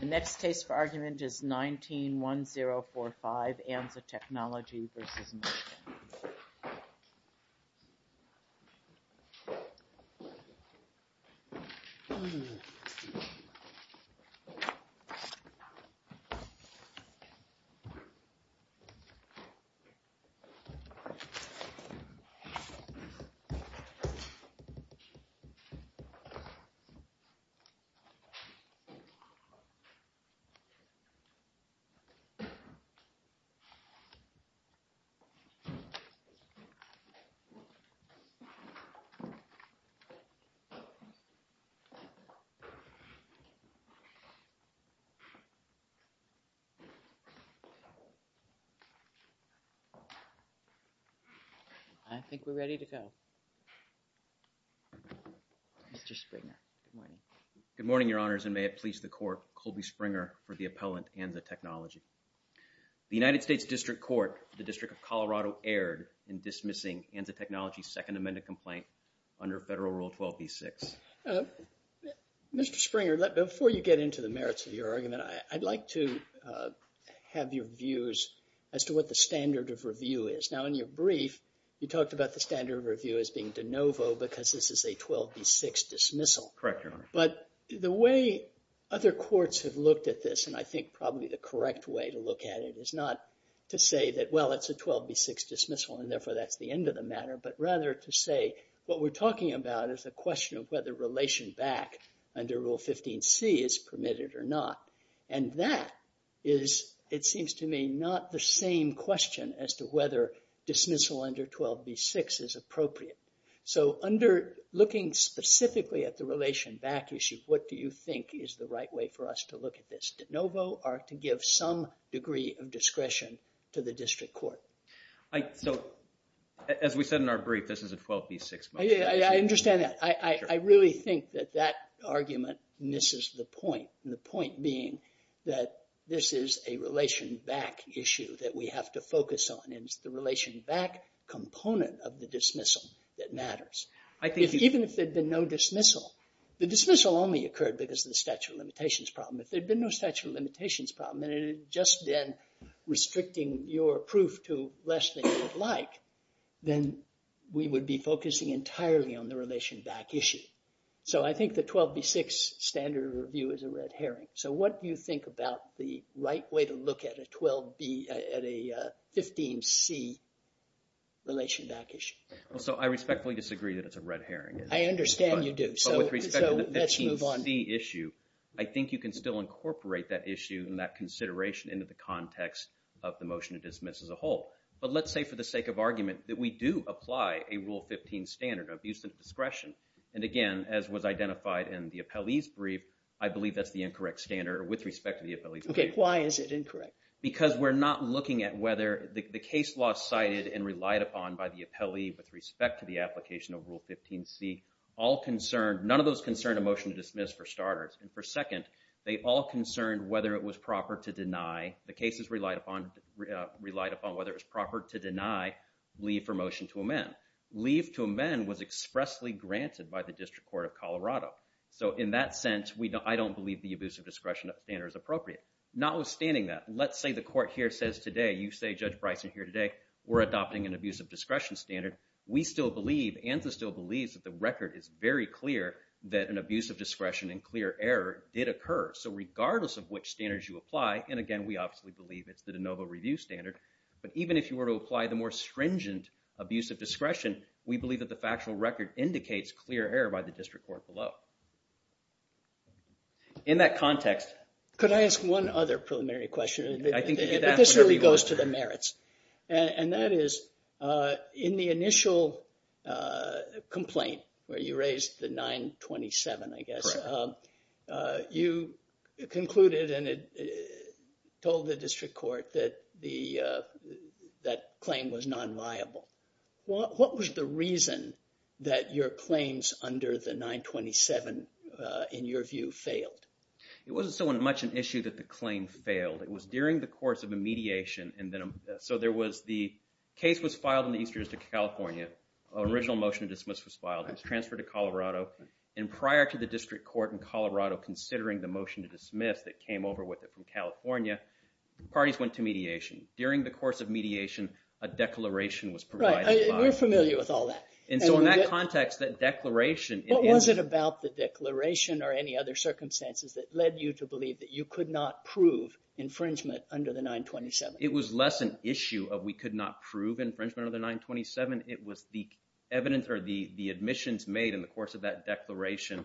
The next case for argument is 19-1045, Anza Technology v. Mushkin. I think we're ready to go. Mr. Springer, good morning. Good morning, Your Honors, and may it please the Court, Colby Springer for the appellant, Anza Technology. The United States District Court, the District of Colorado, erred in dismissing Anza Technology's Second Amendment complaint under Federal Rule 12b-6. Mr. Springer, before you get into the merits of your argument, I'd like to have your views as to what the standard of review is. Now, in your brief, you talked about the standard of review as being de novo because this is a 12b-6 dismissal. Correct, Your Honor. But the way other courts have looked at this, and I think probably the correct way to look at it, is not to say that, well, it's a 12b-6 dismissal and therefore that's the end of the matter, but rather to say what we're talking about is a question of whether relation back under Rule 15c is permitted or not. And that is, it seems to me, not the same question as to whether dismissal under 12b-6 is appropriate. So, under looking specifically at the relation back issue, what do you think is the right way for us to look at this, de novo or to give some degree of discretion to the District Court? So, as we said in our brief, this is a 12b-6 motion. I understand that. I really think that that argument misses the point, and the point being that this is a relation back issue that we have to focus on, and it's the relation back component of the dismissal that matters. Even if there had been no dismissal, the dismissal only occurred because of the statute of limitations problem. If there had been no statute of limitations problem and it had just been restricting your proof to less than you would like, then we would be focusing entirely on the relation back issue. So, I think the 12b-6 standard review is a red herring. So, what do you think about the right way to look at a 12b, at a 15c relation back issue? So, I respectfully disagree that it's a red herring. I understand you do. So, let's move on. With respect to the 15c issue, I think you can still incorporate that issue and that consideration into the context of the motion to dismiss as a whole. But let's say for the sake of argument that we do apply a Rule 15 standard, abuse of discretion. And again, as was identified in the appellee's brief, I believe that's the incorrect standard with respect to the appellee's brief. Okay, why is it incorrect? Because we're not looking at whether the case law cited and relied upon by the appellee with respect to the application of Rule 15c, all concerned – none of those concerned a motion to dismiss for starters. And for second, they all concerned whether it was proper to deny – the cases relied upon whether it was proper to deny leave for motion to amend. Leave to amend was expressly granted by the District Court of Colorado. So, in that sense, I don't believe the abuse of discretion standard is appropriate. Notwithstanding that, let's say the court here says today, you say, Judge Bryson, here today, we're adopting an abuse of discretion standard. We still believe – ANSA still believes that the record is very clear that an abuse of discretion and clear error did occur. So regardless of which standards you apply – and again, we obviously believe it's the de novo review standard. But even if you were to apply the more stringent abuse of discretion, we believe that the factual record indicates clear error by the District Court below. In that context – Could I ask one other preliminary question? I think you get to ask whatever you want. But this really goes to the merits. And that is in the initial complaint where you raised the 927, I guess. You concluded and told the district court that the – that claim was nonviable. What was the reason that your claims under the 927, in your view, failed? It wasn't so much an issue that the claim failed. It was during the course of a mediation, and then – so there was the case was filed in the eastern district of California. An original motion to dismiss was filed. It was transferred to Colorado. And prior to the district court in Colorado considering the motion to dismiss that came over with it from California, parties went to mediation. During the course of mediation, a declaration was provided. Right. We're familiar with all that. And so in that context, that declaration – What was it about the declaration or any other circumstances that led you to believe that you could not prove infringement under the 927? It was less an issue of we could not prove infringement under the 927. It was the evidence or the admissions made in the course of that declaration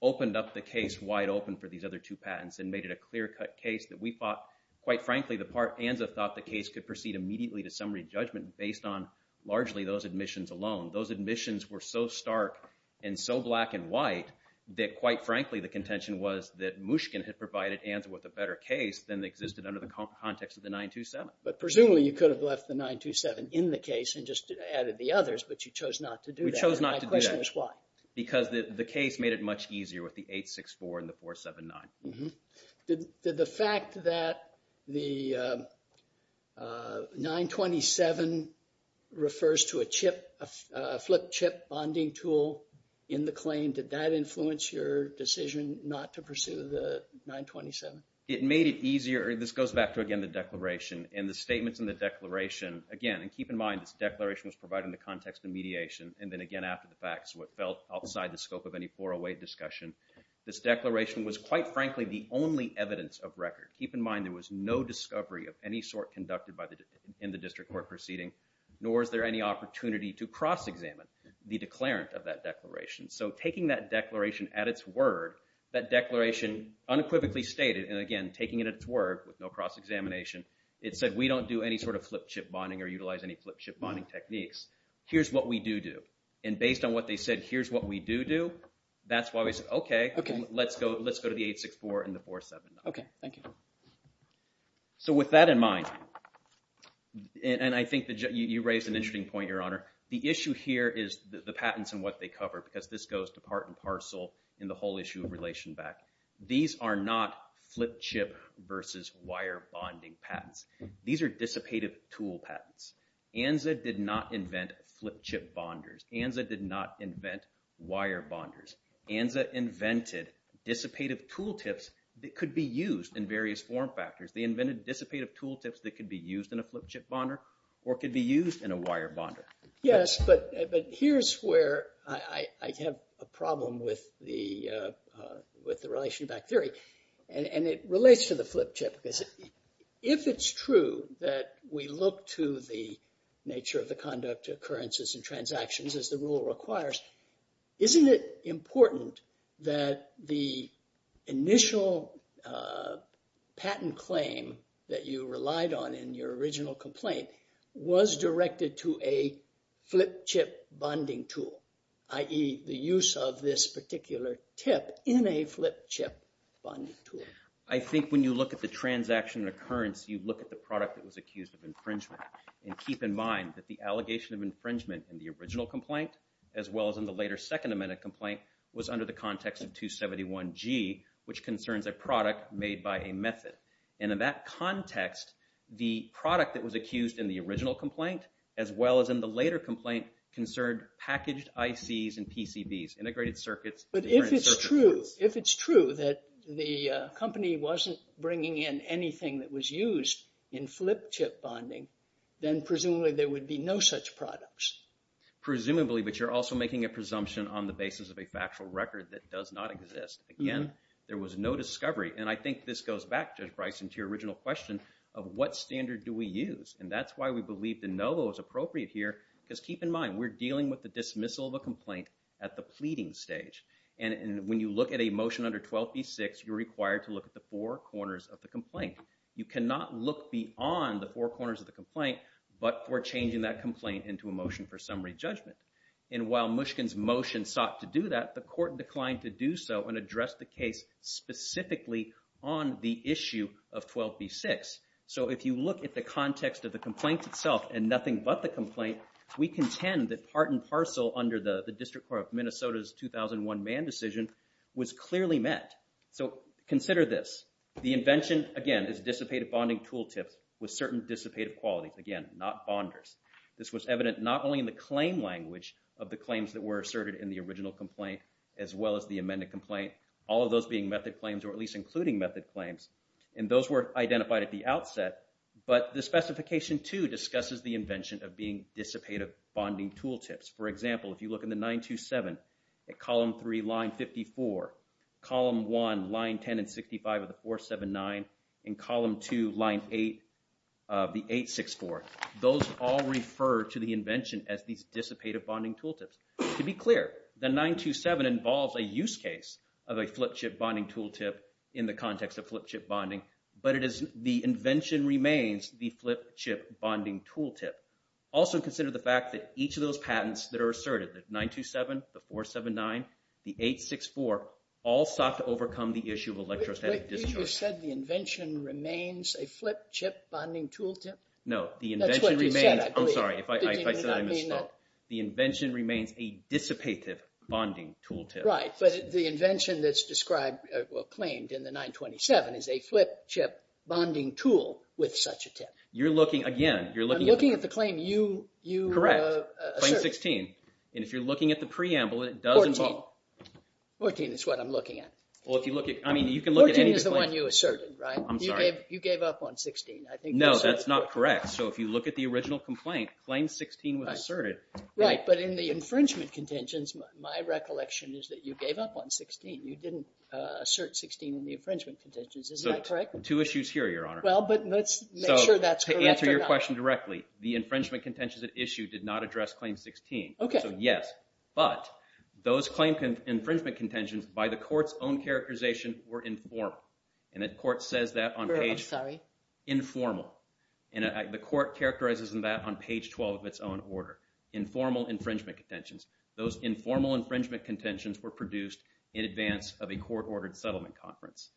opened up the case wide open for these other two patents and made it a clear-cut case that we thought, quite frankly, the – ANSA thought the case could proceed immediately to summary judgment based on largely those admissions alone. Those admissions were so stark and so black and white that, quite frankly, the contention was that Mushkin had provided ANSA with a better case than existed under the context of the 927. But presumably, you could have left the 927 in the case and just added the others, but you chose not to do that. We chose not to do that. And my question is why? Because the case made it much easier with the 864 and the 479. Did the fact that the 927 refers to a flip chip bonding tool in the claim, did that influence your decision not to pursue the 927? It made it easier. This goes back to, again, the declaration and the statements in the declaration. Again, and keep in mind, this declaration was provided in the context of mediation. And then, again, after the fact, so it felt outside the scope of any 408 discussion. This declaration was, quite frankly, the only evidence of record. Keep in mind there was no discovery of any sort conducted in the district court proceeding, nor is there any opportunity to cross-examine the declarant of that declaration. So taking that declaration at its word, that declaration unequivocally stated, and again, taking it at its word with no cross-examination, it said we don't do any sort of flip chip bonding or utilize any flip chip bonding techniques. Here's what we do do. And based on what they said, here's what we do do, that's why we said, okay, let's go to the 864 and the 479. Okay, thank you. So with that in mind, and I think you raised an interesting point, Your Honor. The issue here is the patents and what they cover because this goes to part and parcel in the whole issue of relation back. These are not flip chip versus wire bonding patents. These are dissipative tool patents. ANZA did not invent flip chip bonders. ANZA did not invent wire bonders. ANZA invented dissipative tool tips that could be used in various form factors. They invented dissipative tool tips that could be used in a flip chip bonder or could be used in a wire bonder. Yes, but here's where I have a problem with the relation back theory. And it relates to the flip chip. If it's true that we look to the nature of the conduct, occurrences, and transactions as the rule requires, isn't it important that the initial patent claim that you relied on in your original complaint was directed to a flip chip bonding tool, i.e. the use of this particular tip in a flip chip bonding tool? I think when you look at the transaction occurrence, you look at the product that was accused of infringement. And keep in mind that the allegation of infringement in the original complaint, as well as in the later second amendment complaint, was under the context of 271G, which concerns a product made by a method. And in that context, the product that was accused in the original complaint, as well as in the later complaint, concerned packaged ICs and PCBs, integrated circuits. But if it's true, if it's true that the company wasn't bringing in anything that was used in flip chip bonding, then presumably there would be no such products. Presumably, but you're also making a presumption on the basis of a factual record that does not exist. Again, there was no discovery, and I think this goes back, Judge Bryson, to your original question of what standard do we use? And that's why we believe the NOVO is appropriate here, because keep in mind, we're dealing with the dismissal of a complaint at the pleading stage. And when you look at a motion under 12b-6, you're required to look at the four corners of the complaint. You cannot look beyond the four corners of the complaint but for changing that complaint into a motion for summary judgment. And while Mushkin's motion sought to do that, the court declined to do so and address the case specifically on the issue of 12b-6. So if you look at the context of the complaint itself and nothing but the complaint, we contend that part and parcel under the District Court of Minnesota's 2001 Mann decision was clearly met. So consider this. The invention, again, is dissipative bonding tool tips with certain dissipative qualities. Again, not bonders. This was evident not only in the claim language of the claims that were asserted in the original complaint as well as the amended complaint, all of those being method claims or at least including method claims, and those were identified at the outset, but the specification 2 discusses the invention of being dissipative bonding tool tips. For example, if you look in the 927, at column 3, line 54, column 1, line 10 and 65 of the 479, in column 2, line 8 of the 864, those all refer to the invention as these dissipative bonding tool tips. To be clear, the 927 involves a use case of a flip chip bonding tool tip in the context of flip chip bonding, but the invention remains the flip chip bonding tool tip. Also consider the fact that each of those patents that are asserted, the 927, the 479, the 864, all sought to overcome the issue of electrostatic discharge. Wait, you said the invention remains a flip chip bonding tool tip? No, the invention remains... That's what you said, I believe. I'm sorry, if I said I misspoke. Did you not mean that? The invention remains a dissipative bonding tool tip. Right, but the invention that's described or claimed in the 927 is a flip chip bonding tool with such a tip. You're looking, again, you're looking... I'm looking at the claim you assert. Correct, claim 16. And if you're looking at the preamble, it does involve... 14. 14 is what I'm looking at. 14 is the one you asserted, right? I'm sorry. You gave up on 16. No, that's not correct. So if you look at the original complaint, claim 16 was asserted. Right, but in the infringement contentions, my recollection is that you gave up on 16. You didn't assert 16 in the infringement contentions. Isn't that correct? Two issues here, Your Honor. Well, but let's make sure that's correct or not. To answer your question directly, the infringement contentions at issue did not address claim 16. Okay. So yes, but those claim infringement contentions by the court's own characterization were informal. And the court says that on page... I'm sorry. Informal. And the court characterizes that on page 12 of its own order. Informal infringement contentions. Those informal infringement contentions were produced in advance of a court-ordered settlement conference.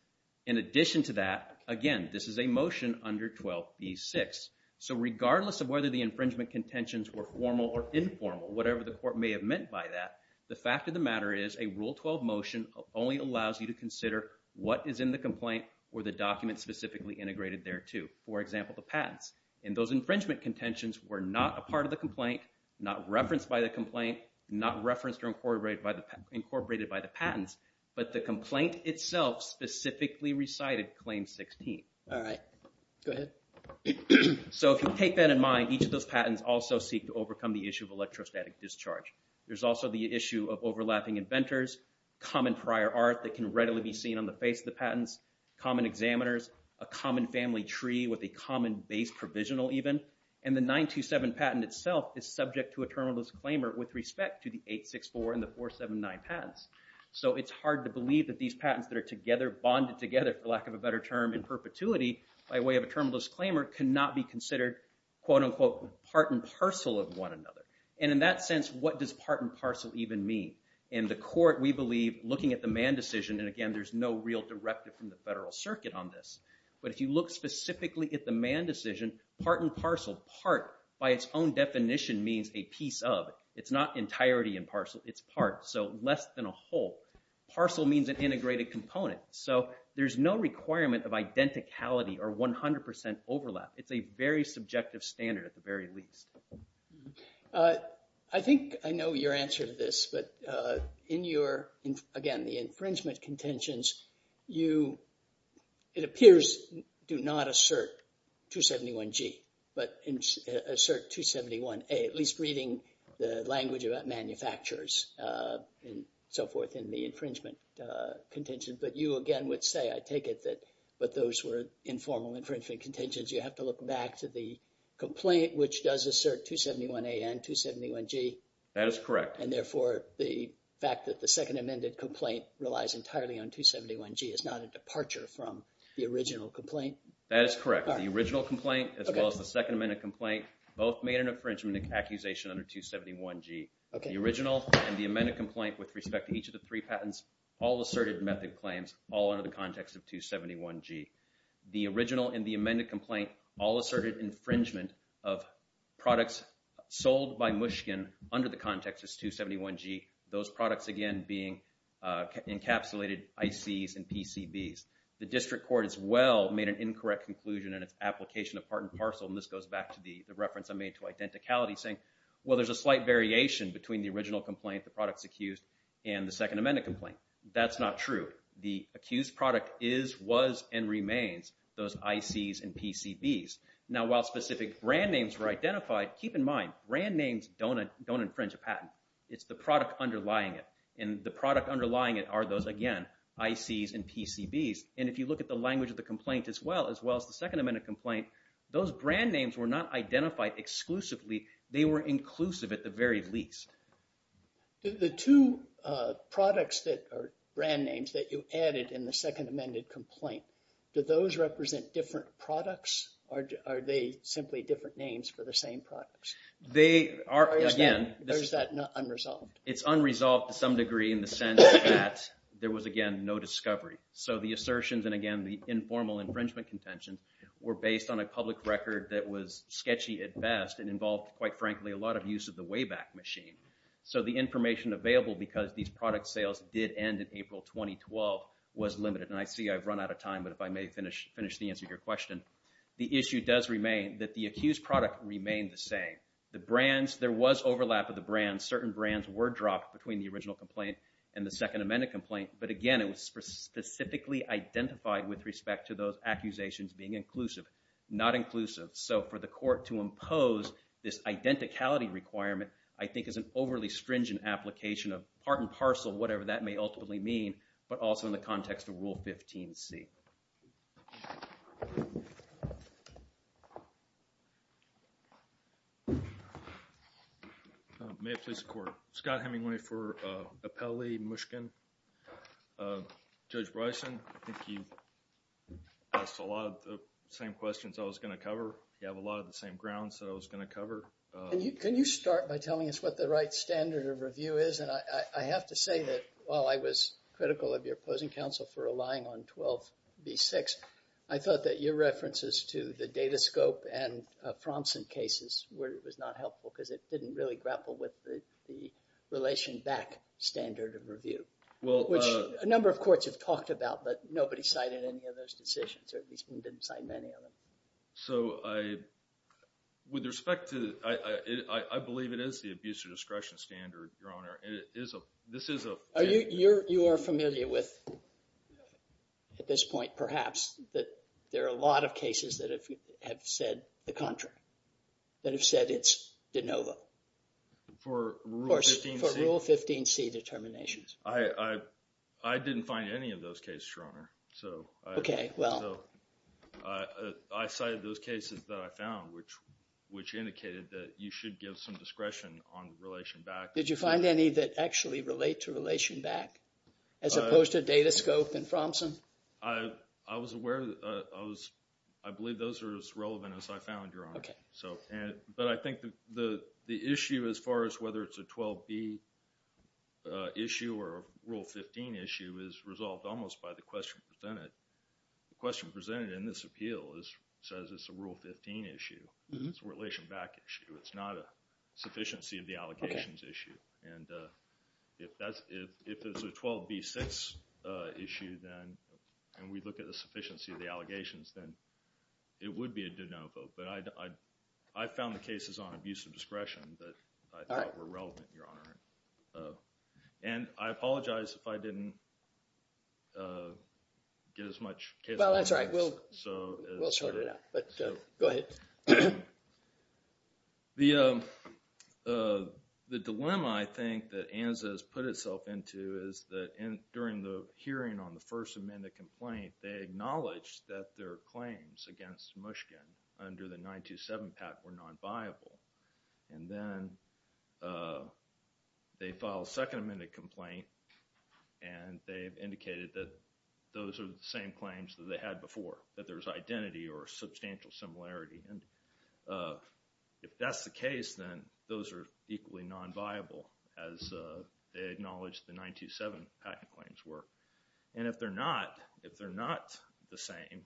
In addition to that, again, this is a motion under 12b-6. So regardless of whether the infringement contentions were formal or informal, whatever the court may have meant by that, the fact of the matter is a Rule 12 motion only allows you to consider what is in the complaint or the document specifically integrated thereto. For example, the patents. And those infringement contentions were not a part of the complaint, not referenced by the complaint, not referenced or incorporated by the patents, All right. Go ahead. So if you take that in mind, each of those patents also seek to overcome the issue of electrostatic discharge. There's also the issue of overlapping inventors, common prior art that can readily be seen on the face of the patents, common examiners, a common family tree with a common base provisional even, and the 927 patent itself is subject to a terminal disclaimer with respect to the 864 and the 479 patents. So it's hard to believe that these patents that are together, bonded together, for lack of a better term, in perpetuity by way of a terminal disclaimer, cannot be considered, quote unquote, part and parcel of one another. And in that sense, what does part and parcel even mean? In the court, we believe looking at the Mann decision, and again, there's no real directive from the Federal Circuit on this, but if you look specifically at the Mann decision, part and parcel, part by its own definition means a piece of. It's not entirety and parcel. It's part. So less than a whole. Parcel means an integrated component. So there's no requirement of identicality or 100% overlap. It's a very subjective standard at the very least. I think I know your answer to this, but in your, again, the infringement contentions, you, it appears, do not assert 271G, but assert 271A, at least reading the language of manufacturers and so forth in the infringement contentions, but you, again, would say, I take it that, but those were informal infringement contentions. You have to look back to the complaint, which does assert 271A and 271G. That is correct. And therefore, the fact that the second amended complaint relies entirely on 271G is not a departure from the original complaint. That is correct. The original complaint, as well as the second amended complaint, both made an infringement accusation under 271G. The original and the amended complaint with respect to each of the three patents all asserted method claims all under the context of 271G. The original and the amended complaint all asserted infringement of products sold by Mushkin under the context of 271G, those products, again, being encapsulated ICs and PCBs. The district court, as well, made an incorrect conclusion in its application of part and parcel, and this goes back to the reference I made to identicality saying, well, there's a slight variation between the original and the amended complaint. That's not true. The accused product is, was, and remains those ICs and PCBs. Now, while specific brand names were identified, keep in mind, brand names don't infringe a patent. It's the product underlying it. And the product underlying it are those, again, ICs and PCBs. And if you look at the language of the complaint, as well, as well as the second amended complaint, those brand names were not identified exclusively. They were inclusive at the very least. The two products that are brand names that you added in the second amended complaint, do those represent different products, or are they simply different names for the same products? They are, again, Or is that unresolved? It's unresolved to some degree in the sense that there was, again, no discovery. So the assertions, and again, the informal infringement contention, were based on a public record that was sketchy at best and involved, quite frankly, a lot of use of the Wayback Machine. So the information available, because these product sales did end in April 2012, was limited. And I see I've run out of time, but if I may finish the answer to your question. The issue does remain that the accused product remained the same. The brands, there was overlap of the brands. Certain brands were dropped between the original complaint and the second amended complaint. But again, it was specifically identified with respect to those accusations being inclusive, not inclusive. So for the court to impose this identicality requirement, I think is an overly stringent application of part and parcel, whatever that may ultimately mean, but also in the context of Rule 15C. May it please the Court. Scott Hemingway for Apelli, Mushkin. Judge Bryson, I think you asked a lot of the same questions I was going to cover. You have a lot of the same grounds that I was going to cover. Can you start by telling us what the right standard of review is? And I have to say that, while I was critical of your opposing counsel for relying on 12B6, I thought that your references to the Datascope and Fromson cases was not helpful because it didn't really grapple with the relation back standard of review. Which a number of courts have talked about, but nobody cited any of those decisions, or at least we didn't cite many of them. So with respect to, I believe it is the abuse of discretion standard, Your Honor. This is a... You are familiar with, at this point perhaps, that there are a lot of cases that have said the contrary, that have said it's de novo. For Rule 15C? For Rule 15C determinations. I didn't find any of those cases, Your Honor. Okay, well. I cited those cases that I found, which indicated that you should give some discretion on relation back. Did you find any that actually relate to relation back, as opposed to Datascope and Fromson? I was aware of those. I believe those are as relevant as I found, Your Honor. Okay. But I think the issue as far as whether it's a 12B issue or a Rule 15 issue is resolved almost by the question presented. The question presented in this appeal says it's a Rule 15 issue. It's a relation back issue. It's not a sufficiency of the allegations issue. And if it's a 12B6 issue, then, and we look at the sufficiency of the allegations, then it would be a de novo. But I found the cases on abuse of discretion that I thought were relevant, Your Honor. And I apologize if I didn't get as much case. Well, that's right. We'll sort it out. But go ahead. The dilemma, I think, that ANZA has put itself into is that during the hearing on the first amendment complaint, they acknowledged that their claims against Mushkin under the 927 pact were non-viable. And then they filed a second amendment complaint, and they've indicated that those are the same claims that they had before, that there's identity or substantial similarity. And if that's the case, then those are equally non-viable as they acknowledge the 927 pact claims were. And if they're not, if they're not the same,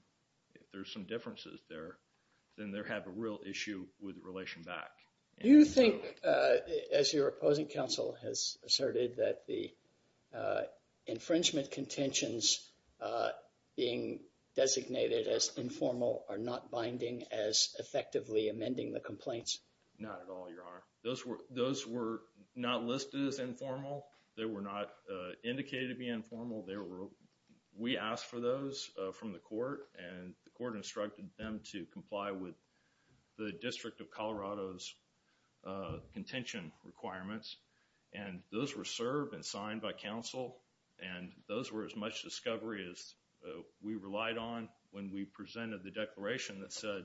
if there's some differences there, then they have a real issue with relation back. Do you think, as your opposing counsel has asserted, that the infringement contentions being designated as informal are not binding as effectively amending the complaints? Not at all, Your Honor. Those were not listed as informal. They were not indicated to be informal. We asked for those from the court, and the court instructed them to comply with the District of Colorado's contention requirements. And those were served and signed by counsel, and those were as much discovery as we relied on when we presented the declaration that said,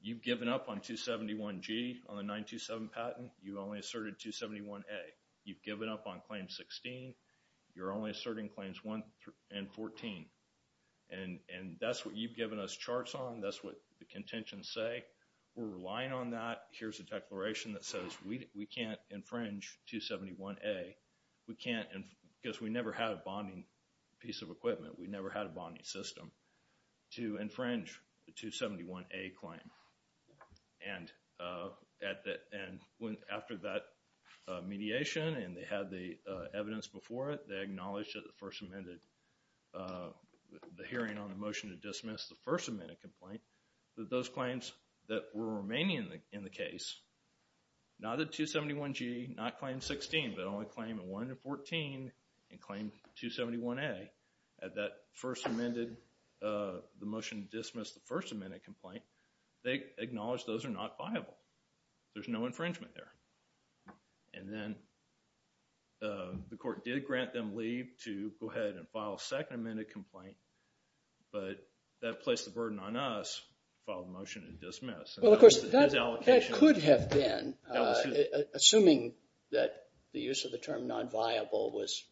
you've given up on 271G on the 927 patent. You only asserted 271A. You've given up on Claim 16. You're only asserting Claims 1 and 14. And that's what you've given us charts on. That's what the contentions say. We're relying on that. Here's a declaration that says we can't infringe 271A. We can't, because we never had a bonding piece of equipment. We never had a bonding system to infringe the 271A claim. And after that mediation and they had the evidence before it, they acknowledged that the First Amendment, the hearing on the motion to dismiss the First Amendment complaint, that those claims that were remaining in the case, not the 271G, not Claim 16, but only Claim 1 and 14, and Claim 271A at that First Amendment, the motion to dismiss the First Amendment complaint, they acknowledged those are not viable. There's no infringement there. And then the court did grant them leave to go ahead and file a Second Amendment complaint, but that placed the burden on us to file the motion to dismiss. Well, of course, that could have been, assuming that the use of the term nonviable was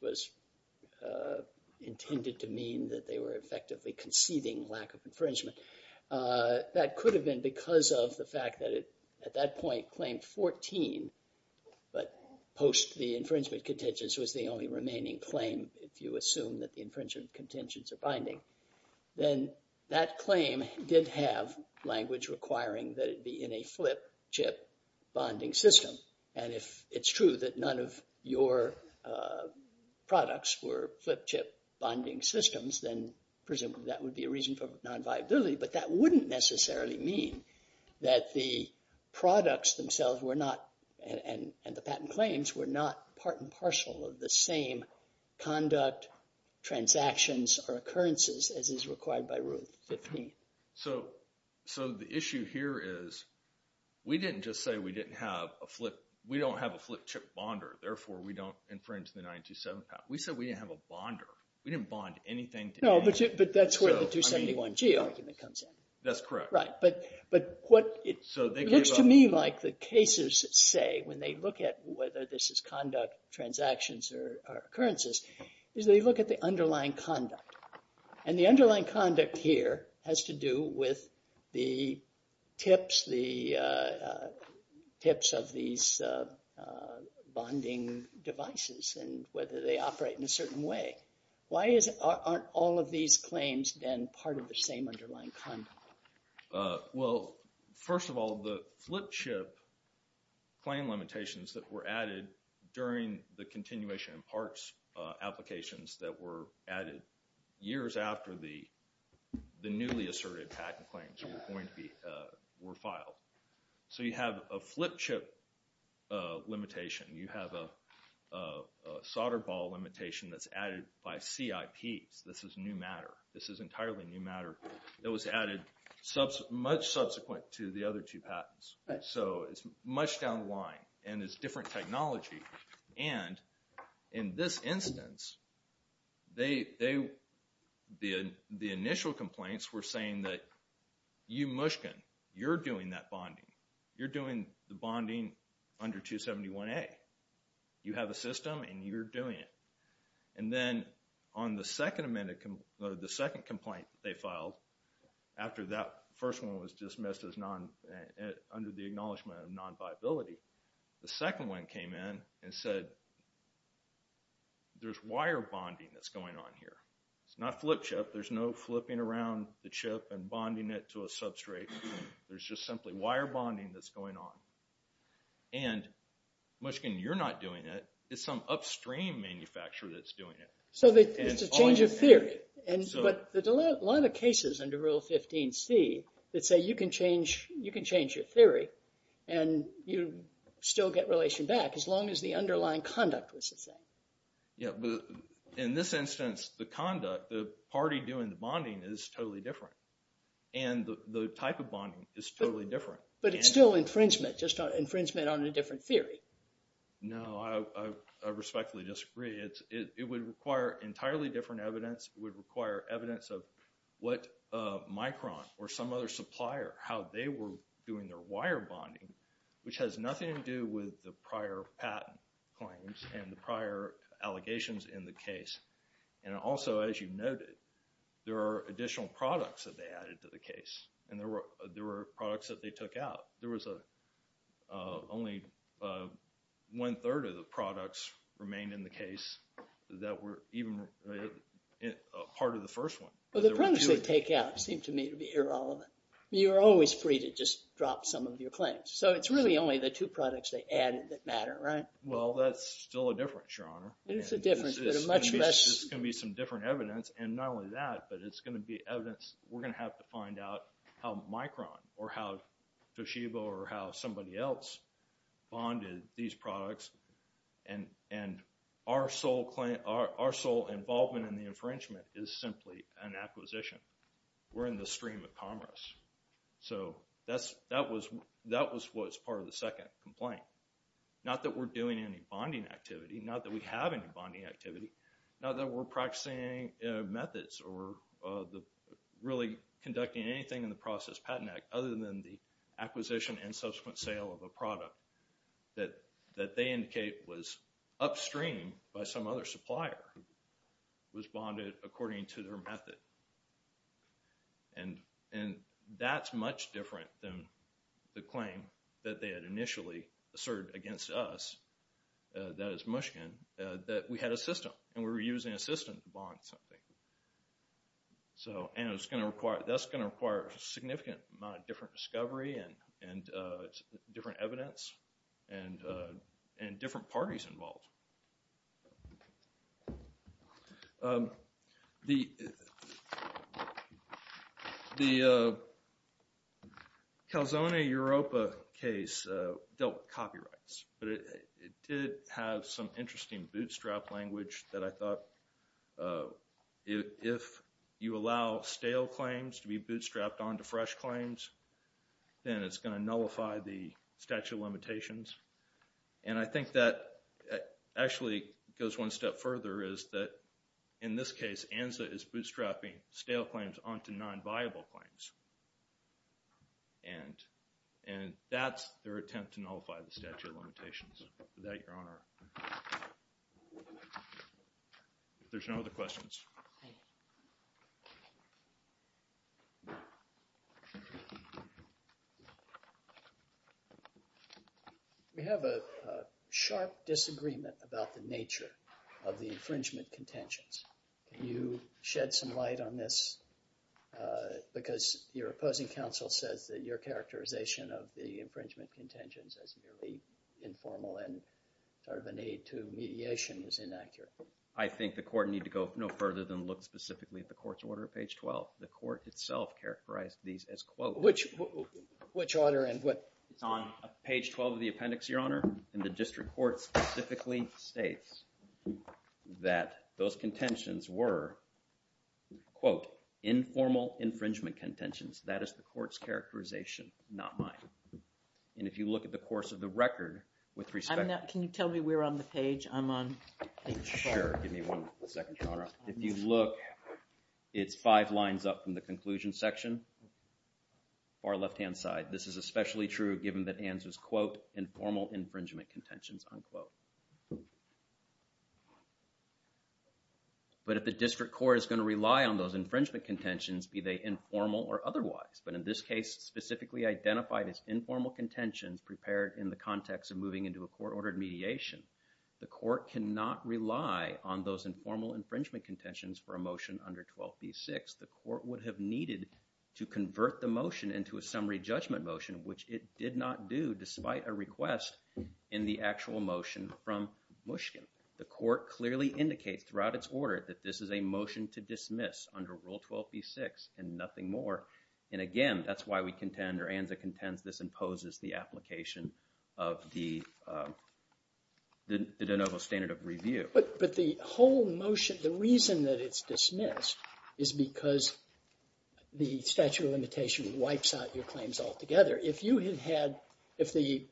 intended to mean that they were effectively conceiving lack of infringement. That could have been because of the fact that at that point, Claim 14, but post the infringement contentions, was the only remaining claim, if you assume that the infringement contentions are binding. Then that claim did have language requiring that it be in a flip-chip bonding system. And if it's true that none of your products were flip-chip bonding systems, then presumably that would be a reason for nonviability. But that wouldn't necessarily mean that the products themselves and the patent claims were not part and parcel of the same conduct, transactions, or occurrences as is required by Rule 15. So the issue here is, we didn't just say we don't have a flip-chip bonder, therefore we don't infringe the 927 patent. We said we didn't have a bonder. We didn't bond anything. No, but that's where the 271G argument comes in. That's correct. Right, but what it looks to me like the cases say when they look at whether this is conduct, transactions, or occurrences, is they look at the underlying conduct. And the underlying conduct here has to do with the tips, the tips of these bonding devices and whether they operate in a certain way. Why aren't all of these claims then part of the same underlying conduct? Well, first of all, the flip-chip claim limitations that were added during the continuation and parts applications that were added years after the newly asserted patent claims were filed. So you have a flip-chip limitation. You have a solder ball limitation that's added by CIPs. This is new matter. This is entirely new matter. It was added much subsequent to the other two patents. So it's much down the line. And it's different technology. And in this instance, the initial complaints were saying that you, Mushkin, you're doing that bonding. You're doing the bonding under 271A. You have a system and you're doing it. And then on the second amendment, the second complaint they filed, after that first one was dismissed under the acknowledgment of non-viability, the second one came in and said, there's wire bonding that's going on here. It's not flip-chip. There's no flipping around the chip and bonding it to a substrate. There's just simply wire bonding that's going on. And, Mushkin, you're not doing it. It's some upstream manufacturer that's doing it. So it's a change of theory. But there's a lot of cases under Rule 15C that say you can change your theory and you still get relation back as long as the underlying conduct was the same. Yeah, but in this instance, the conduct, the party doing the bonding is totally different. And the type of bonding is totally different. But it's still infringement, just infringement on a different theory. No, I respectfully disagree. It would require entirely different evidence. It would require evidence of what Micron or some other supplier, how they were doing their wire bonding, which has nothing to do with the prior patent claims and the prior allegations in the case. And also, as you noted, there are additional products that they added to the case. And there were products that they took out. There was only one-third of the products remained in the case that were even part of the first one. Well, the products they take out seem to me to be irrelevant. You're always free to just drop some of your claims. So it's really only the two products they added that matter, right? Well, that's still a difference, Your Honor. It is a difference, but a much less... It's going to be some different evidence. And not only that, but it's going to be evidence. We're going to have to find out how Micron or how Toshiba or how somebody else bonded these products. And our sole involvement in the infringement is simply an acquisition. We're in the stream of commerce. So that was what was part of the second complaint. Not that we're doing any bonding activity. Not that we have any bonding activity. Not that we're practicing methods or really conducting anything in the Process Patent Act other than the acquisition and subsequent sale of a product that they indicate was upstream by some other supplier who was bonded according to their method. And that's much different than the claim that they had initially asserted against us, that is, Mushkin, that we had a system and we were using a system to bond something. And that's going to require a significant amount of different discovery and different evidence and different parties involved. The Calzone Europa case dealt with copyrights. But it did have some interesting bootstrap language that I thought if you allow stale claims to be bootstrapped onto fresh claims, then it's going to nullify the statute of limitations. And I think that actually goes one step further, is that in this case ANZA is bootstrapping stale claims onto non-viable claims. And that's their attempt to nullify the statute of limitations. With that, Your Honor. If there's no other questions. We have a sharp disagreement about the nature of the infringement contentions. Can you shed some light on this? Because your opposing counsel says that your characterization of the infringement contentions as merely informal and sort of a need to mediation is inaccurate. I think the court need to go no further than look specifically at the court's order at page 12. The court itself characterized these as, quote, Which order and what? It's on page 12 of the appendix, Your Honor. And the district court specifically states that those contentions were, quote, informal infringement contentions. That is the court's characterization, not mine. And if you look at the course of the record, with respect to Can you tell me where on the page I'm on? Sure. Give me one second, Your Honor. If you look, it's five lines up from the conclusion section, far left-hand side. This is especially true given that ANZA's, quote, But if the district court is going to rely on those infringement contentions, be they informal or otherwise. But in this case, specifically identified as informal contentions prepared in the context of moving into a court-ordered mediation. The court cannot rely on those informal infringement contentions for a motion under 12b-6. The court would have needed to convert the motion into a summary judgment motion, which it did not do despite a request in the actual motion from Mushkin. The court clearly indicates throughout its order that this is a motion to dismiss under Rule 12b-6 and nothing more. And again, that's why we contend, or ANZA contends, this imposes the application of the de novo standard of review. But the whole motion, the reason that it's dismissed is because the statute of limitation wipes out your claims altogether. If the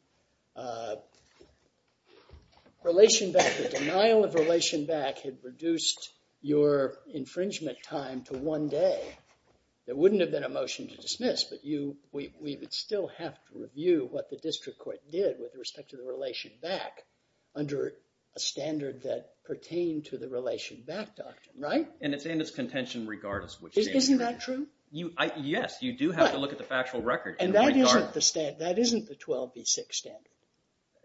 denial of relation back had reduced your infringement time to one day, there wouldn't have been a motion to dismiss. But we would still have to review what the district court did with respect to the relation back under a standard that pertained to the relation back doctrine, right? And it's in its contention regardless. Isn't that true? Yes, you do have to look at the factual record and that isn't the 12b-6 standard.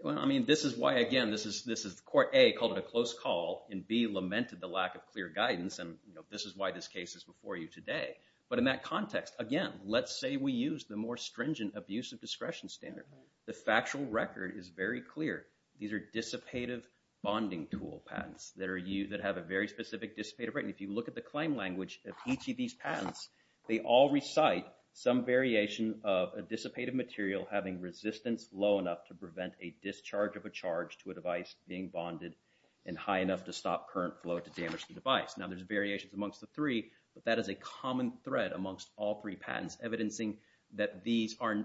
Well, I mean, this is why, again, this is Court A called it a close call and B lamented the lack of clear guidance and this is why this case is before you today. But in that context, again, let's say we use the more stringent abuse of discretion standard. The factual record is very clear. These are dissipative bonding tool patents that have a very specific dissipative rating. If you look at the claim language of each of these patents, they all recite some variation of a dissipative material having resistance low enough to prevent a discharge of a charge to a device being bonded and high enough to stop current flow to damage the device. Now, there's variations amongst the three but that is a common thread amongst all three patents evidencing that these are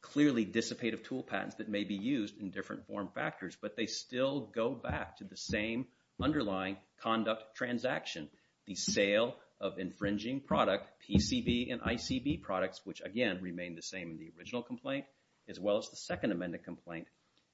clearly dissipative tool patents that may be used in different form factors but they still go back to the same underlying conduct the sale of infringing product, PCB and ICB products which, again, remain the same in the original complaint as well as the second amended complaint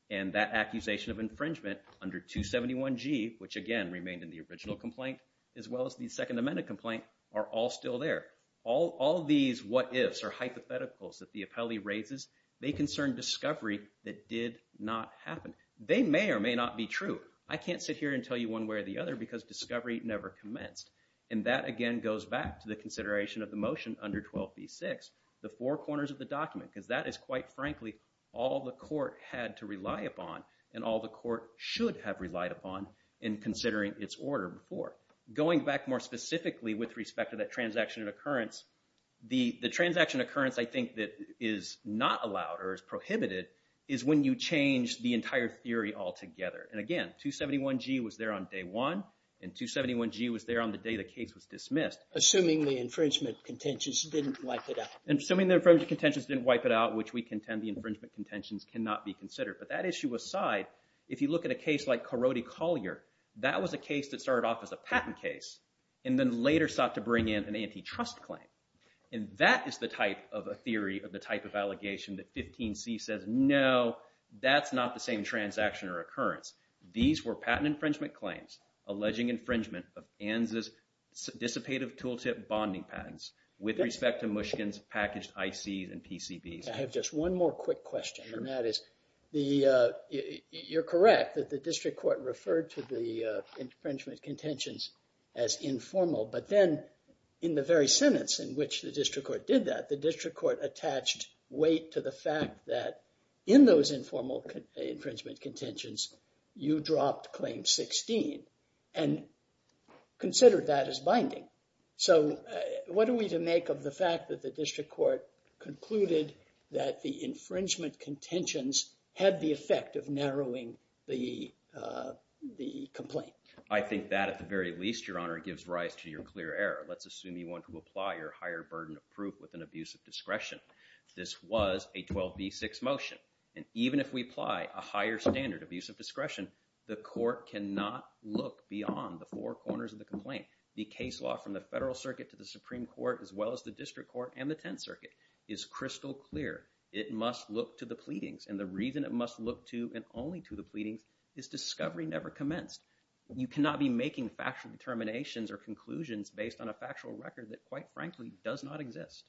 and that accusation of infringement under 271G which, again, remained in the original complaint as well as the second amended complaint are all still there. All these what-ifs or hypotheticals that the appellee raises they concern discovery that did not happen. They may or may not be true. I can't sit here and tell you one way or the other because discovery never commenced and that, again, goes back to the consideration of the motion under 12b-6, the four corners of the document because that is, quite frankly, all the court had to rely upon and all the court should have relied upon in considering its order before. Going back more specifically with respect to that transaction and occurrence the transaction occurrence, I think, that is not allowed or is prohibited is when you change the entire theory altogether and, again, 271G was there on day one and 271G was there on the day the case was dismissed. Assuming the infringement contentions didn't wipe it out. Assuming the infringement contentions didn't wipe it out which we contend the infringement contentions cannot be considered but that issue aside, if you look at a case like Corotti-Collier that was a case that started off as a patent case and then later sought to bring in an antitrust claim and that is the type of a theory of the type of allegation that 15c says, no, that's not the same transaction or occurrence. These were patent infringement claims alleging infringement of ANZ's dissipative tooltip bonding patents with respect to Mushkin's packaged ICs and PCBs. I have just one more quick question and that is you're correct that the district court referred to the infringement contentions as informal but then in the very sentence in which the district court did that the district court attached weight to the fact that in those informal infringement contentions you dropped claim 16 and considered that as binding. So what are we to make of the fact that the district court concluded that the infringement contentions had the effect of narrowing the complaint? I think that at the very least, Your Honor, gives rise to your clear error. Let's assume you want to apply your higher burden of proof with an abuse of discretion. This was a 12b6 motion and even if we apply a higher standard of abuse of discretion the court cannot look beyond the four corners of the complaint. The case law from the Federal Circuit to the Supreme Court as well as the District Court and the Tenth Circuit is crystal clear. It must look to the pleadings and the reason it must look to and only to the pleadings is discovery never commenced. You cannot be making factual determinations or conclusions based on a factual record that quite frankly does not exist.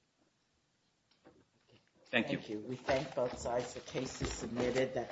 Thank you. Thank you. We thank both sides for cases submitted.